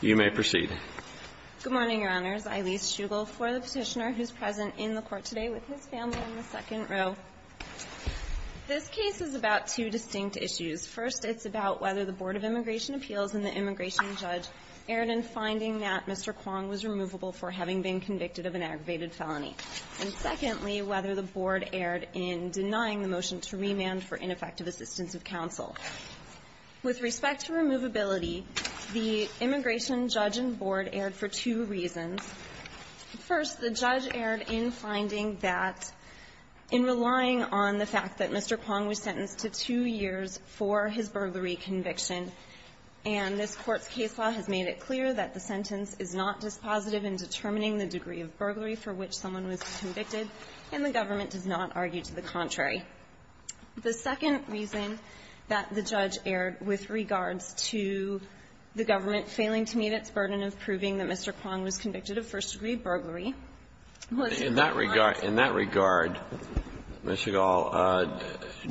You may proceed. Good morning, Your Honors. Eileen Shugle for the Petitioner, who's present in the Court today with his family in the second row. This case is about two distinct issues. First, it's about whether the Board of Immigration Appeals and the immigration judge erred in finding that Mr. Kwong was removable for having been convicted of an aggravated felony. And secondly, whether the Board erred in denying the motion to remand for ineffective assistance of counsel. With respect to removability, the immigration judge and board erred for two reasons. First, the judge erred in finding that in relying on the fact that Mr. Kwong was sentenced to two years for his burglary conviction, and this Court's case law has made it clear that the sentence is not dispositive in determining the degree of burglary for which someone was convicted, and the government does not argue to the contrary. The second reason that the judge erred with regards to the government failing to meet its burden of proving that Mr. Kwong was convicted of first-degree burglary was in that regard. In that regard, Ms. Shugle,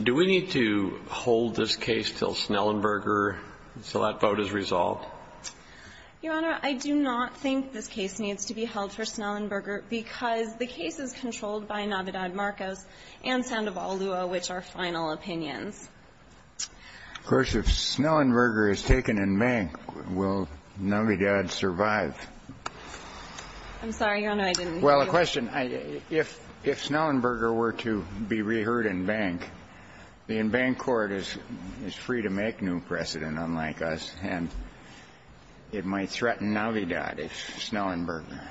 do we need to hold this case till Snellenberger, so that vote is resolved? Shugle, Your Honor, I do not think this case needs to be held for Snellenberger because the case is controlled by Navidad-Marcos and Sandoval-Lua, which are final opinions. Of course, if Snellenberger is taken in bank, will Navidad survive? I'm sorry, Your Honor, I didn't hear you. Well, a question. If Snellenberger were to be reheard in bank, the in-bank court is free to make new precedent unlike us, and it might threaten Navidad if Snellenberger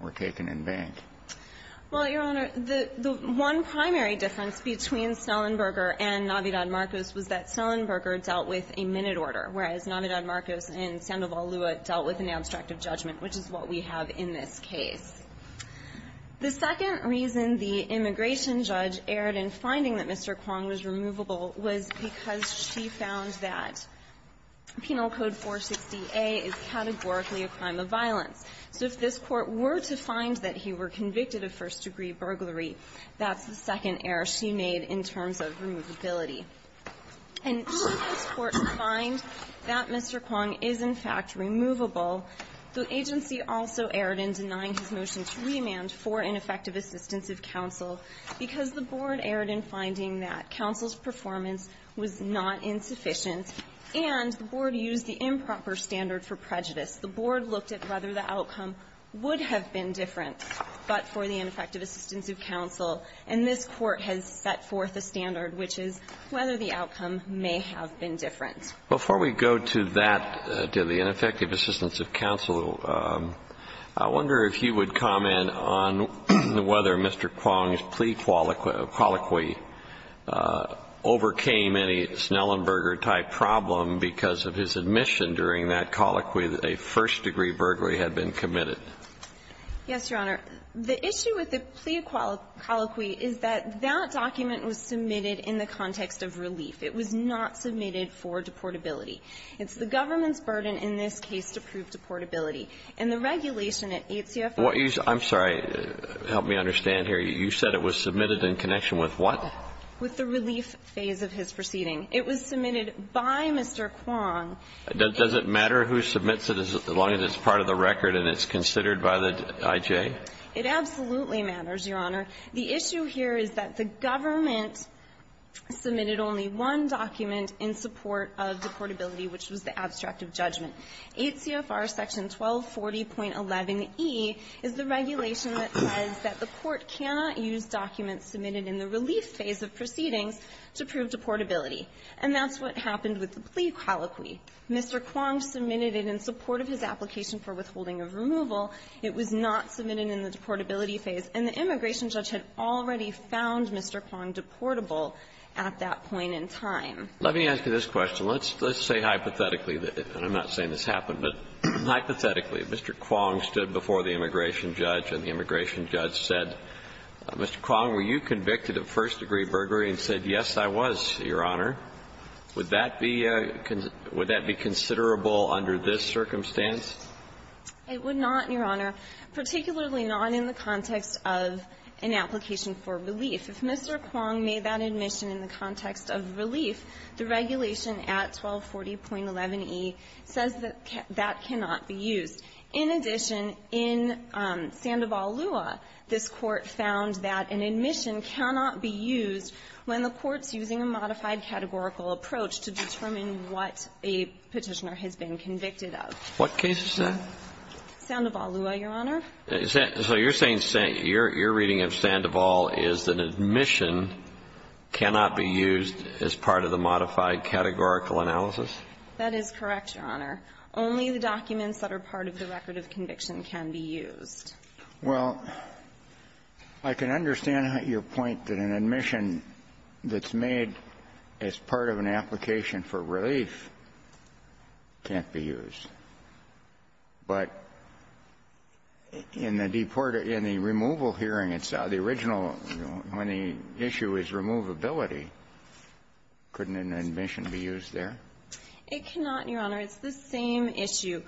were taken in bank. Well, Your Honor, the one primary difference between Snellenberger and Navidad-Marcos was that Snellenberger dealt with a minute order, whereas Navidad-Marcos and Sandoval-Lua dealt with an abstract of judgment, which is what we have in this case. The second reason the immigration judge erred in finding that Mr. Kwong was removable was because she found that Penal Code 460A is categorically a crime of violence. So if this Court were to find that he were convicted of first-degree burglary, that's the second error she made in terms of removability. And should this Court find that Mr. Kwong is, in fact, removable, the agency also erred in denying his motion to remand for ineffective assistance of counsel because the board erred in finding that counsel's performance was not insufficient and the board used the improper standard for prejudice. The board looked at whether the outcome would have been different, but for the ineffective assistance of counsel, and this Court has set forth a standard, which is whether the outcome may have been different. Before we go to that, to the ineffective assistance of counsel, I wonder if you would comment on whether Mr. Kwong's plea colloquy overcame any Snellenberger-type problem because of his admission during that colloquy that a first-degree burglary had been committed. Yes, Your Honor. The issue with the plea colloquy is that that document was submitted in the context of relief. It was not submitted for deportability. It's the government's burden in this case to prove deportability. And the regulation at 8 CFR was submitted by Mr. Kwong. I'm sorry, help me understand here. You said it was submitted in connection with what? With the relief phase of his proceeding. It was submitted by Mr. Kwong. Does it matter who submits it as long as it's part of the record and it's considered by the IJ? It absolutely matters, Your Honor. The issue here is that the government submitted only one document in support of deportability, which was the abstract of judgment. 8 CFR section 1240.11e is the regulation that says that the court cannot use documents submitted in the relief phase of proceedings to prove deportability. And that's what happened with the plea colloquy. Mr. Kwong submitted it in support of his application for withholding of removal. It was not submitted in the deportability phase. And the immigration judge had already found Mr. Kwong deportable at that point in time. Let me ask you this question. Let's say hypothetically, and I'm not saying this happened, but hypothetically, if Mr. Kwong stood before the immigration judge and the immigration judge said, Mr. Kwong, were you convicted of first-degree burglary, and said, yes, I was, Your Honor, would that be considerable under this circumstance? I would not, Your Honor, particularly not in the context of an application for relief. If Mr. Kwong made that admission in the context of relief, the regulation at 1240.11e says that that cannot be used. In addition, in Sandoval-Lua, this Court found that an admission cannot be used when the Court's using a modified categorical approach to determine what a Petitioner has been convicted of. What case is that? Sandoval-Lua, Your Honor. So you're saying your reading of Sandoval is that an admission cannot be used as part of the modified categorical analysis? That is correct, Your Honor. Only the documents that are part of the record of conviction can be used. Well, I can understand your point that an admission that's made as part of an application for relief can't be used. But in the removal hearing, it's the original, when the issue is removability, couldn't an admission be used there? It cannot, Your Honor. It's the same issue.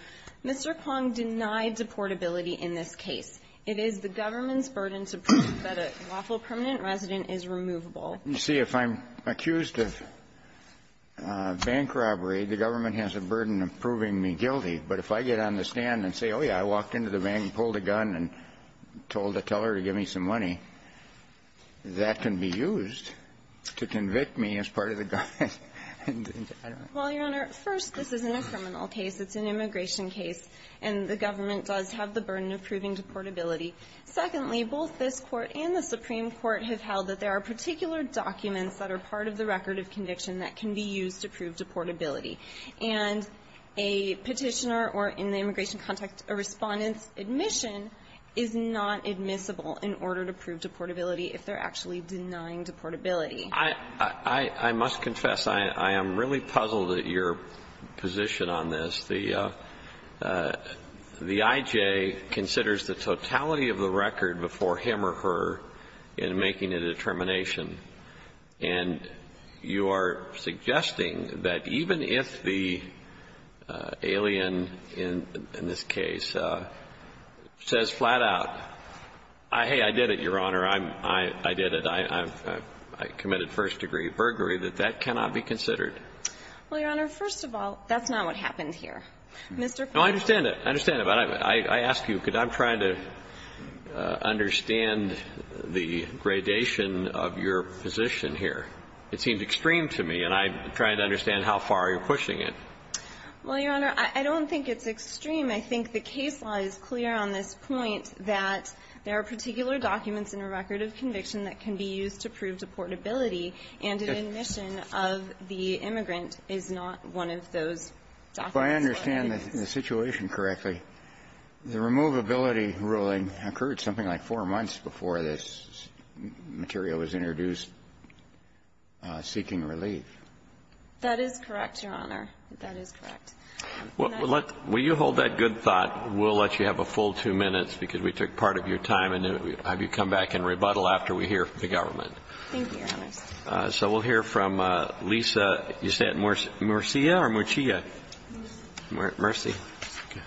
Mr. Kwong denied deportability in this case. It is the government's burden to prove that a lawful permanent resident is removable. You see, if I'm accused of bank robbery, the government has a burden of proving me guilty. But if I get on the stand and say, oh, yeah, I walked into the bank and pulled a gun and told a teller to give me some money, that can be used to convict me as part of the government. Well, Your Honor, first, this isn't a criminal case. It's an immigration case. And the government does have the burden of proving deportability. Secondly, both this Court and the Supreme Court have held that there are particular documents that are part of the record of conviction that can be used to prove deportability. And a Petitioner or, in the immigration context, a Respondent's admission is not admissible in order to prove deportability if they're actually denying deportability. I must confess, I am really puzzled at your position on this. The I.J. considers the totality of the record before him or her in making a determination. And you are suggesting that even if the alien, in this case, says flat out, hey, I did it, Your Honor, I did it, I committed first-degree burglary, that that cannot be considered? Well, Your Honor, first of all, that's not what happened here. Mr. Farnsworth. No, I understand it. I understand it. But I ask you, because I'm trying to understand the gradation of your position here. It seems extreme to me, and I'm trying to understand how far you're pushing it. Well, Your Honor, I don't think it's extreme. I think the case law is clear on this point that there are particular documents in a record of conviction that can be used to prove deportability and an admission of the immigrant is not one of those documents. If I understand the situation correctly, the removability ruling occurred something like four months before this material was introduced, seeking relief. That is correct, Your Honor. That is correct. Well, let's – will you hold that good thought, we'll let you have a full two minutes, because we took part of your time, and then we'll have you come back and rebuttal after we hear from the government. Thank you, Your Honors. So we'll hear from Lisa Ysette Murcia or Murcia? Murcia. Murcia. Okay.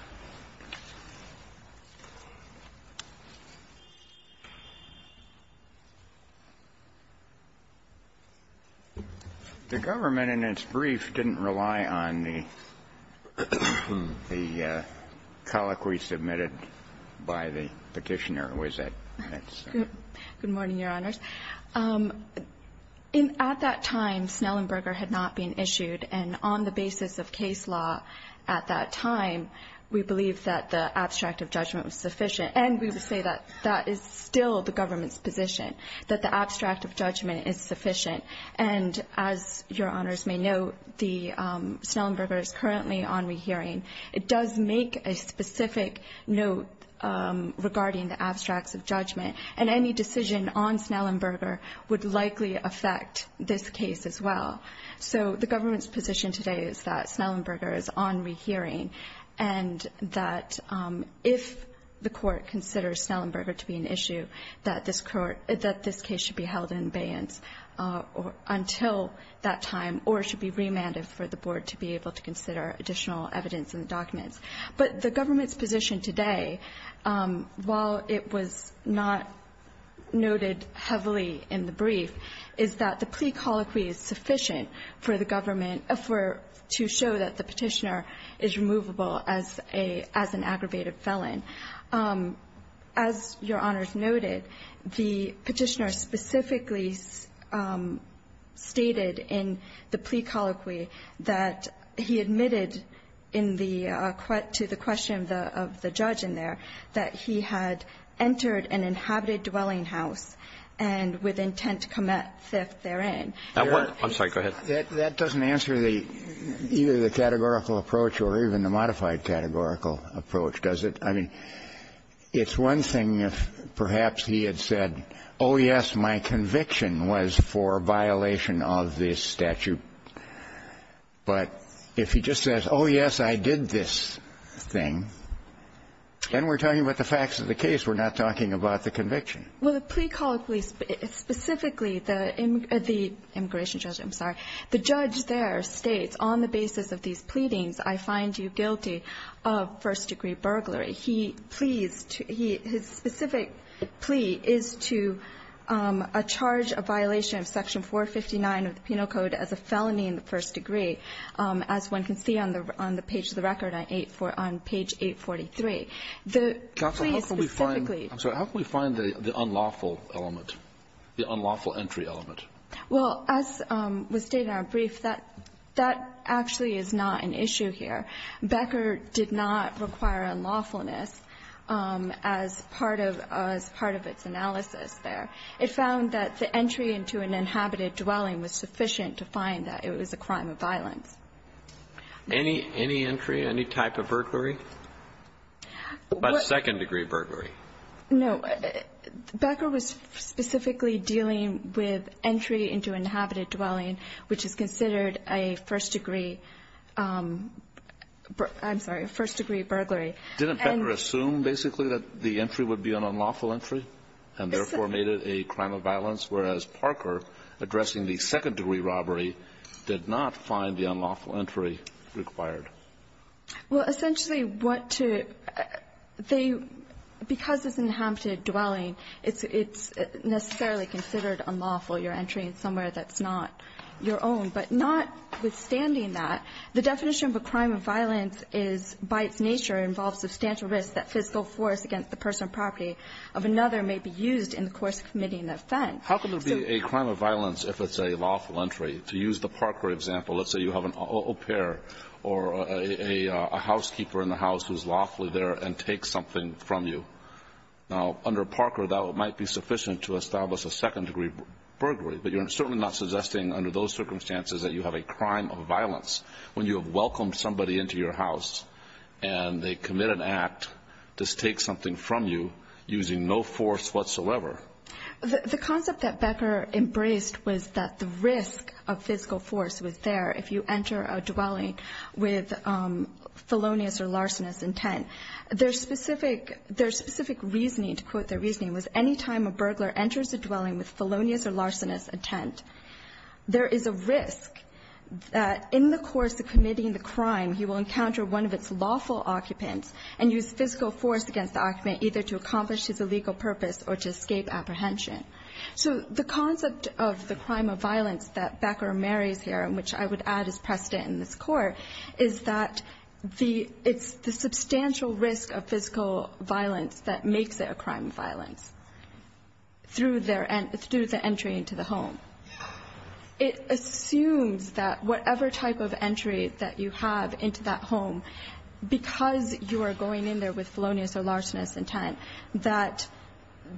The government in its brief didn't rely on the colloquy submitted by the Petitioner, was it? Good morning, Your Honors. At that time, Snellenberger had not been issued, and on the basis of case law at that time, we believe that the abstract of judgment was sufficient. And we would say that that is still the government's position, that the abstract of judgment is sufficient. And as Your Honors may know, the – Snellenberger is currently on rehearing. It does make a specific note regarding the abstracts of judgment, and any decision on Snellenberger would likely affect this case as well. So the government's position today is that Snellenberger is on rehearing, and that if the Court considers Snellenberger to be an issue, that this case should be held in abeyance until that time, or it should be remanded for the Board to be able to consider additional evidence and documents. But the government's position today, while it was not noted heavily in the brief, is that the plea colloquy is sufficient for the government to show that the Petitioner is removable as an aggravated felon. As Your Honors noted, the Petitioner specifically stated in the plea colloquy that he admitted in the – to the question of the judge in there that he had entered an inhabited dwelling house and with intent to commit theft therein. That doesn't answer the – either the categorical approach or even the modified categorical approach, does it? I mean, it's one thing if perhaps he had said, oh, yes, my conviction was for violation of this statute. But if he just says, oh, yes, I did this thing, then we're talking about the facts of the case. We're not talking about the conviction. Well, the plea colloquy specifically, the immigration judge – I'm sorry. The judge there states on the basis of these pleadings, I find you guilty of first-degree burglary. He pleads to – his specific plea is to charge a violation of Section 459 of the Penal Code as a felony in the first degree, as one can see on the page of the record on 8 – on page 843. The plea specifically – Counsel, how can we find – I'm sorry. How can we find the unlawful element, the unlawful entry element? Well, as was stated in our brief, that actually is not an issue here. Becker did not require unlawfulness as part of – as part of its analysis there. It found that the entry into an inhabited dwelling was sufficient to find that it was a crime of violence. Any – any entry, any type of burglary? What – But second-degree burglary. No. Becker was specifically dealing with entry into inhabited dwelling, which is considered a first-degree – I'm sorry, a first-degree burglary. And – Didn't Becker assume, basically, that the entry would be an unlawful entry and therefore made it a crime of violence, whereas Parker, addressing the second-degree robbery, did not find the unlawful entry required? Well, essentially, what to – they – because it's inhabited dwelling, it's – it's necessarily considered unlawful, your entry in somewhere that's not your own. But notwithstanding that, the definition of a crime of violence is, by its nature, involves substantial risk that fiscal force against the personal property of another may be used in the course of committing the offense. How can there be a crime of violence if it's a lawful entry? To use the Parker example, let's say you have an au pair or a – a housekeeper in the house who's lawfully there and takes something from you. Now, under Parker, that might be sufficient to establish a second-degree burglary, but you're certainly not suggesting, under those circumstances, that you have a crime of violence when you have welcomed somebody into your house and they commit an act to take something from you using no force whatsoever. The – the concept that Becker embraced was that the risk of fiscal force was there if you enter a dwelling with felonious or larcenous intent. Their specific – their specific reasoning, to quote their reasoning, was any time a felonious or larcenous intent, there is a risk that in the course of committing the crime, he will encounter one of its lawful occupants and use fiscal force against the occupant either to accomplish his illegal purpose or to escape apprehension. So the concept of the crime of violence that Becker marries here, which I would add is precedent in this Court, is that the – it's the substantial risk of fiscal violence that makes it a crime of violence through their – through the entry into the home. It assumes that whatever type of entry that you have into that home, because you are going in there with felonious or larcenous intent, that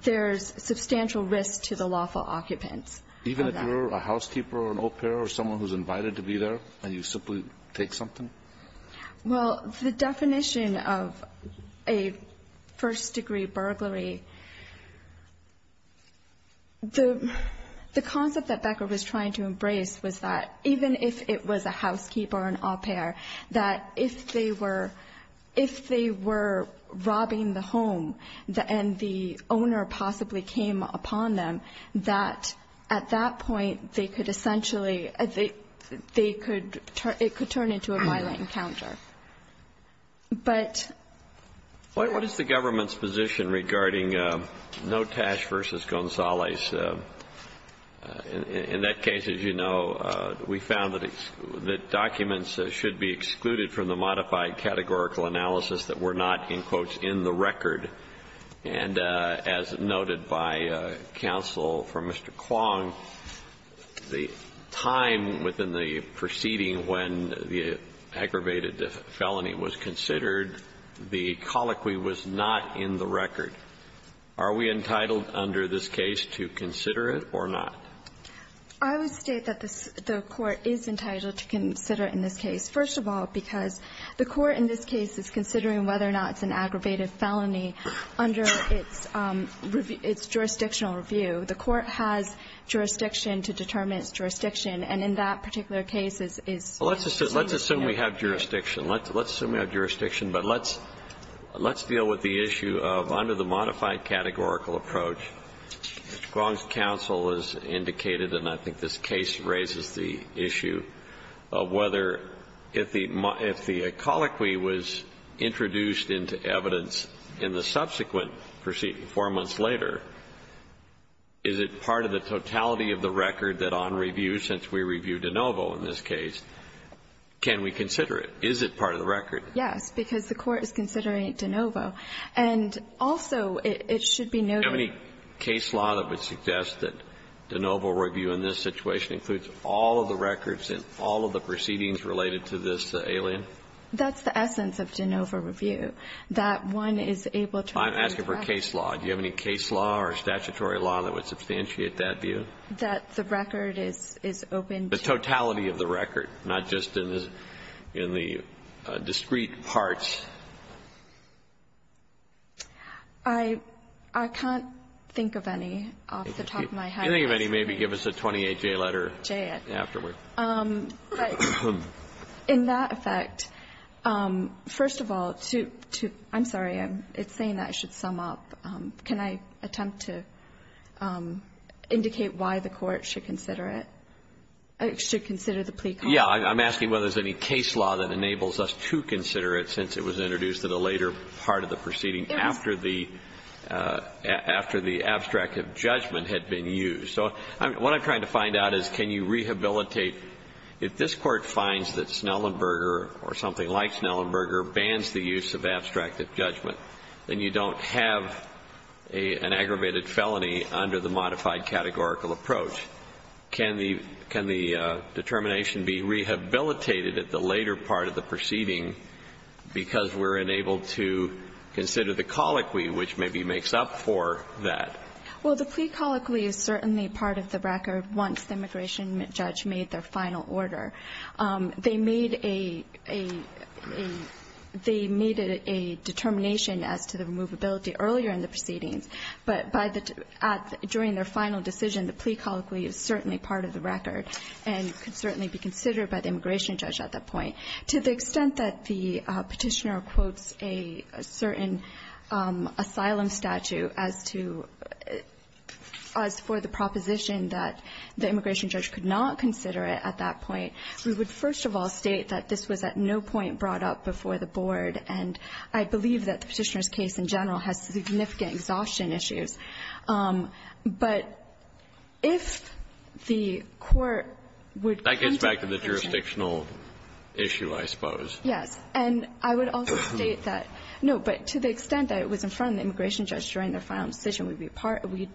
there's substantial risk to the lawful occupants of that. Even if you're a housekeeper or an au pair or someone who's invited to be there and you simply take something? Well, the definition of a first-degree burglary, the concept that Becker was trying to embrace was that even if it was a housekeeper or an au pair, that if they were – if they were robbing the home and the owner possibly came upon them, that at that point, they could essentially – they could – it could turn into a violent encounter. But – What is the government's position regarding Notash v. Gonzalez? In that case, as you know, we found that documents should be excluded from the modified categorical analysis that were not, in quotes, in the record. And as noted by counsel from Mr. Kwong, the time within the proceeding when the aggravated felony was considered, the colloquy was not in the record. Are we entitled under this case to consider it or not? I would state that the court is entitled to consider it in this case, first of all, because the court in this case is considering whether or not it's an aggravated felony under its – its jurisdictional review. The court has jurisdiction to determine its jurisdiction. And in that particular case, it's – Well, let's assume we have jurisdiction. Let's assume we have jurisdiction. But let's – let's deal with the issue of under the modified categorical approach. Mr. Kwong's counsel has indicated, and I think this case raises the issue of whether if the – if the colloquy was introduced into evidence in the subsequent proceeding four months later, is it part of the totality of the record that on review, since we review DeNovo in this case, can we consider it? Is it part of the record? Yes, because the court is considering DeNovo. And also, it should be noted – How many case law that would suggest that DeNovo review in this situation includes all of the records and all of the proceedings related to this alien? That's the essence of DeNovo review, that one is able to – I'm asking for case law. Do you have any case law or statutory law that would substantiate that view? That the record is – is open to – The totality of the record, not just in the – in the discrete parts. I – I can't think of any off the top of my head. If you think of any, maybe give us a 28-J letter. J. Afterward. In that effect, first of all, to – I'm sorry, it's saying that I should sum up. Can I attempt to indicate why the court should consider it? Should consider the plea clause? Yes. I'm asking whether there's any case law that enables us to consider it since it was introduced at a later part of the proceeding after the – after the abstractive judgment had been used. So what I'm trying to find out is can you rehabilitate – if this Court finds that Snellenberger or something like Snellenberger bans the use of abstractive judgment, then you don't have an aggravated felony under the modified categorical approach. Can the – can the determination be rehabilitated at the later part of the proceeding because we're unable to consider the colloquy which maybe makes up for that? Well, the plea colloquy is certainly part of the record once the immigration judge made their final order. They made a – they made a determination as to the removability earlier in the proceedings, but by the – at – during their final decision, the plea colloquy is certainly part of the record and could certainly be considered by the immigration judge at that point. To the extent that the Petitioner quotes a certain asylum statute as to – as for the proposition that the immigration judge could not consider it at that point, we would, first of all, state that this was at no point brought up before the Board, and I believe that the Petitioner's case in general has significant exhaustion issues. Yes. And I would also state that – no, but to the extent that it was in front of the immigration judge during their final decision, we'd be part – we'd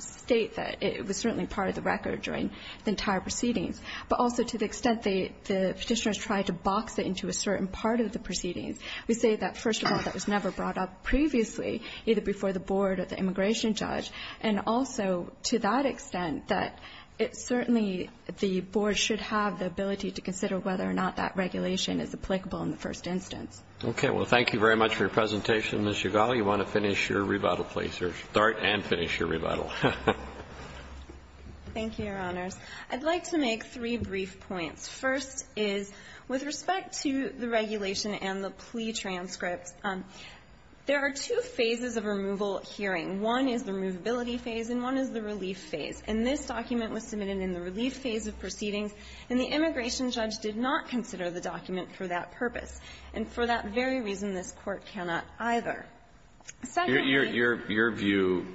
state that it was certainly part of the record during the entire proceedings. But also, to the extent the Petitioner's tried to box it into a certain part of the proceedings, we say that, first of all, that was never brought up previously, either before the Board or the immigration judge, and also, to that extent, that it certainly – the Board should have the ability to consider whether or not that regulation is applicable in the first instance. Okay. Well, thank you very much for your presentation. Ms. Yagali, you want to finish your rebuttal, please, or start and finish your rebuttal. Thank you, Your Honors. I'd like to make three brief points. First is, with respect to the regulation and the plea transcripts, there are two phases of removal hearing. One is the removability phase, and one is the relief phase. And this document was submitted in the relief phase of proceedings, and the immigration judge did not consider the document for that purpose. And for that very reason, this Court cannot either. Secondly — Your view,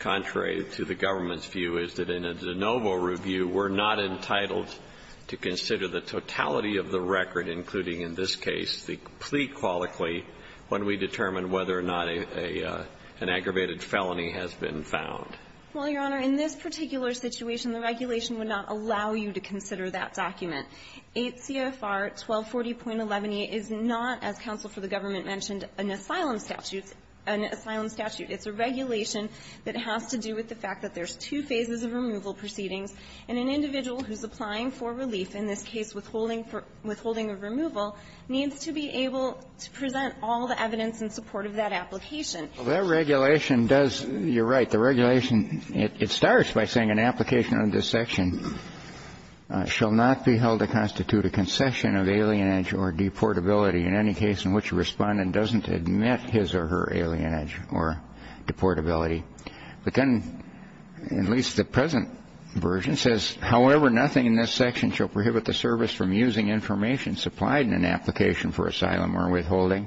contrary to the government's view, is that in a de novo review, we're not entitled to consider the totality of the record, including in this case the plea qualically, when we determine whether or not an aggravated felony has been found. Well, Your Honor, in this particular situation, the regulation would not allow you to consider that document. 8 CFR 1240.11e is not, as counsel for the government mentioned, an asylum statute — an asylum statute. It's a regulation that has to do with the fact that there's two phases of removal proceedings, and an individual who's applying for relief, in this case withholding of removal, needs to be able to present all the evidence in support of that application. Well, that regulation does — you're right. The regulation — it starts by saying an application under this section shall not be held to constitute a concession of alienage or deportability in any case in which a Respondent doesn't admit his or her alienage or deportability. But then, at least the present version says, however, nothing in this section shall prohibit the service from using information supplied in an application for asylum or withholding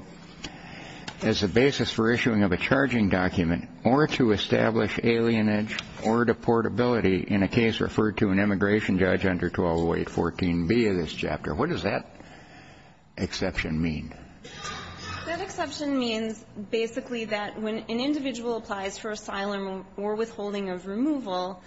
as a basis for issuing of a charging document or to establish alienage or deportability in a case referred to an immigration judge under 1208.14b of this chapter. What does that exception mean? That exception means, basically, that when an individual applies for asylum or withholding of removal,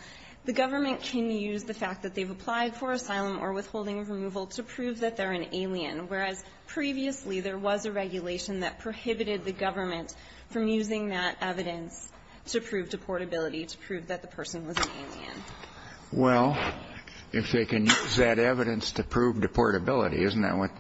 the government can use the fact that they've applied for asylum or withholding of removal to prove that they're an alien, whereas previously there was a regulation that prohibited the government from using that evidence to prove deportability, to prove that the person was an alien. Well, if they can use that evidence to prove deportability, isn't that what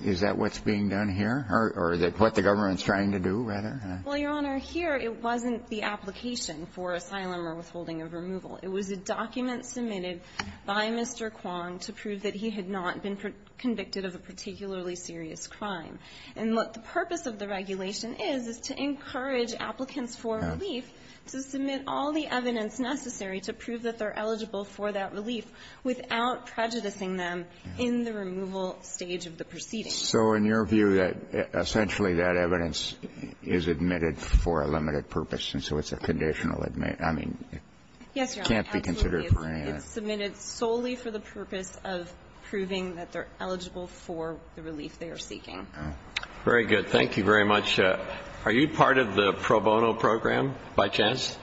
— is that what's being done here, or what the government's trying to do, rather? Well, Your Honor, here it wasn't the application for asylum or withholding of removal. It was a document submitted by Mr. Kwong to prove that he had not been convicted of a particularly serious crime. And what the purpose of the regulation is, is to encourage applicants for relief to submit all the evidence necessary to prove that they're eligible for that relief without prejudicing them in the removal stage of the proceedings. So in your view, that essentially that evidence is admitted for a limited purpose, and so it's a conditional admit. I mean, it can't be considered perennial. It's submitted solely for the purpose of proving that they're eligible for the relief they are seeking. Very good. Thank you very much. Are you part of the pro bono program, by chance?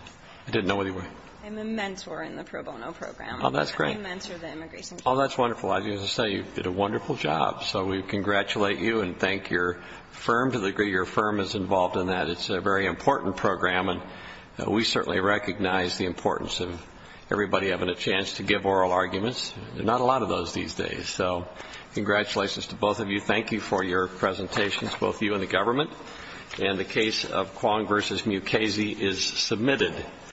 I didn't know what you were. I'm a mentor in the pro bono program. Oh, that's great. I mentor the immigration team. Oh, that's wonderful. As I say, you did a wonderful job. So we congratulate you and thank your firm, to the degree your firm is involved in that. It's a very important program, and we certainly recognize the importance of everybody having a chance to give oral arguments. Not a lot of those these days. So congratulations to both of you. Thank you for your presentations, both you and the government. And the case of Kwong v. Mukasey is submitted.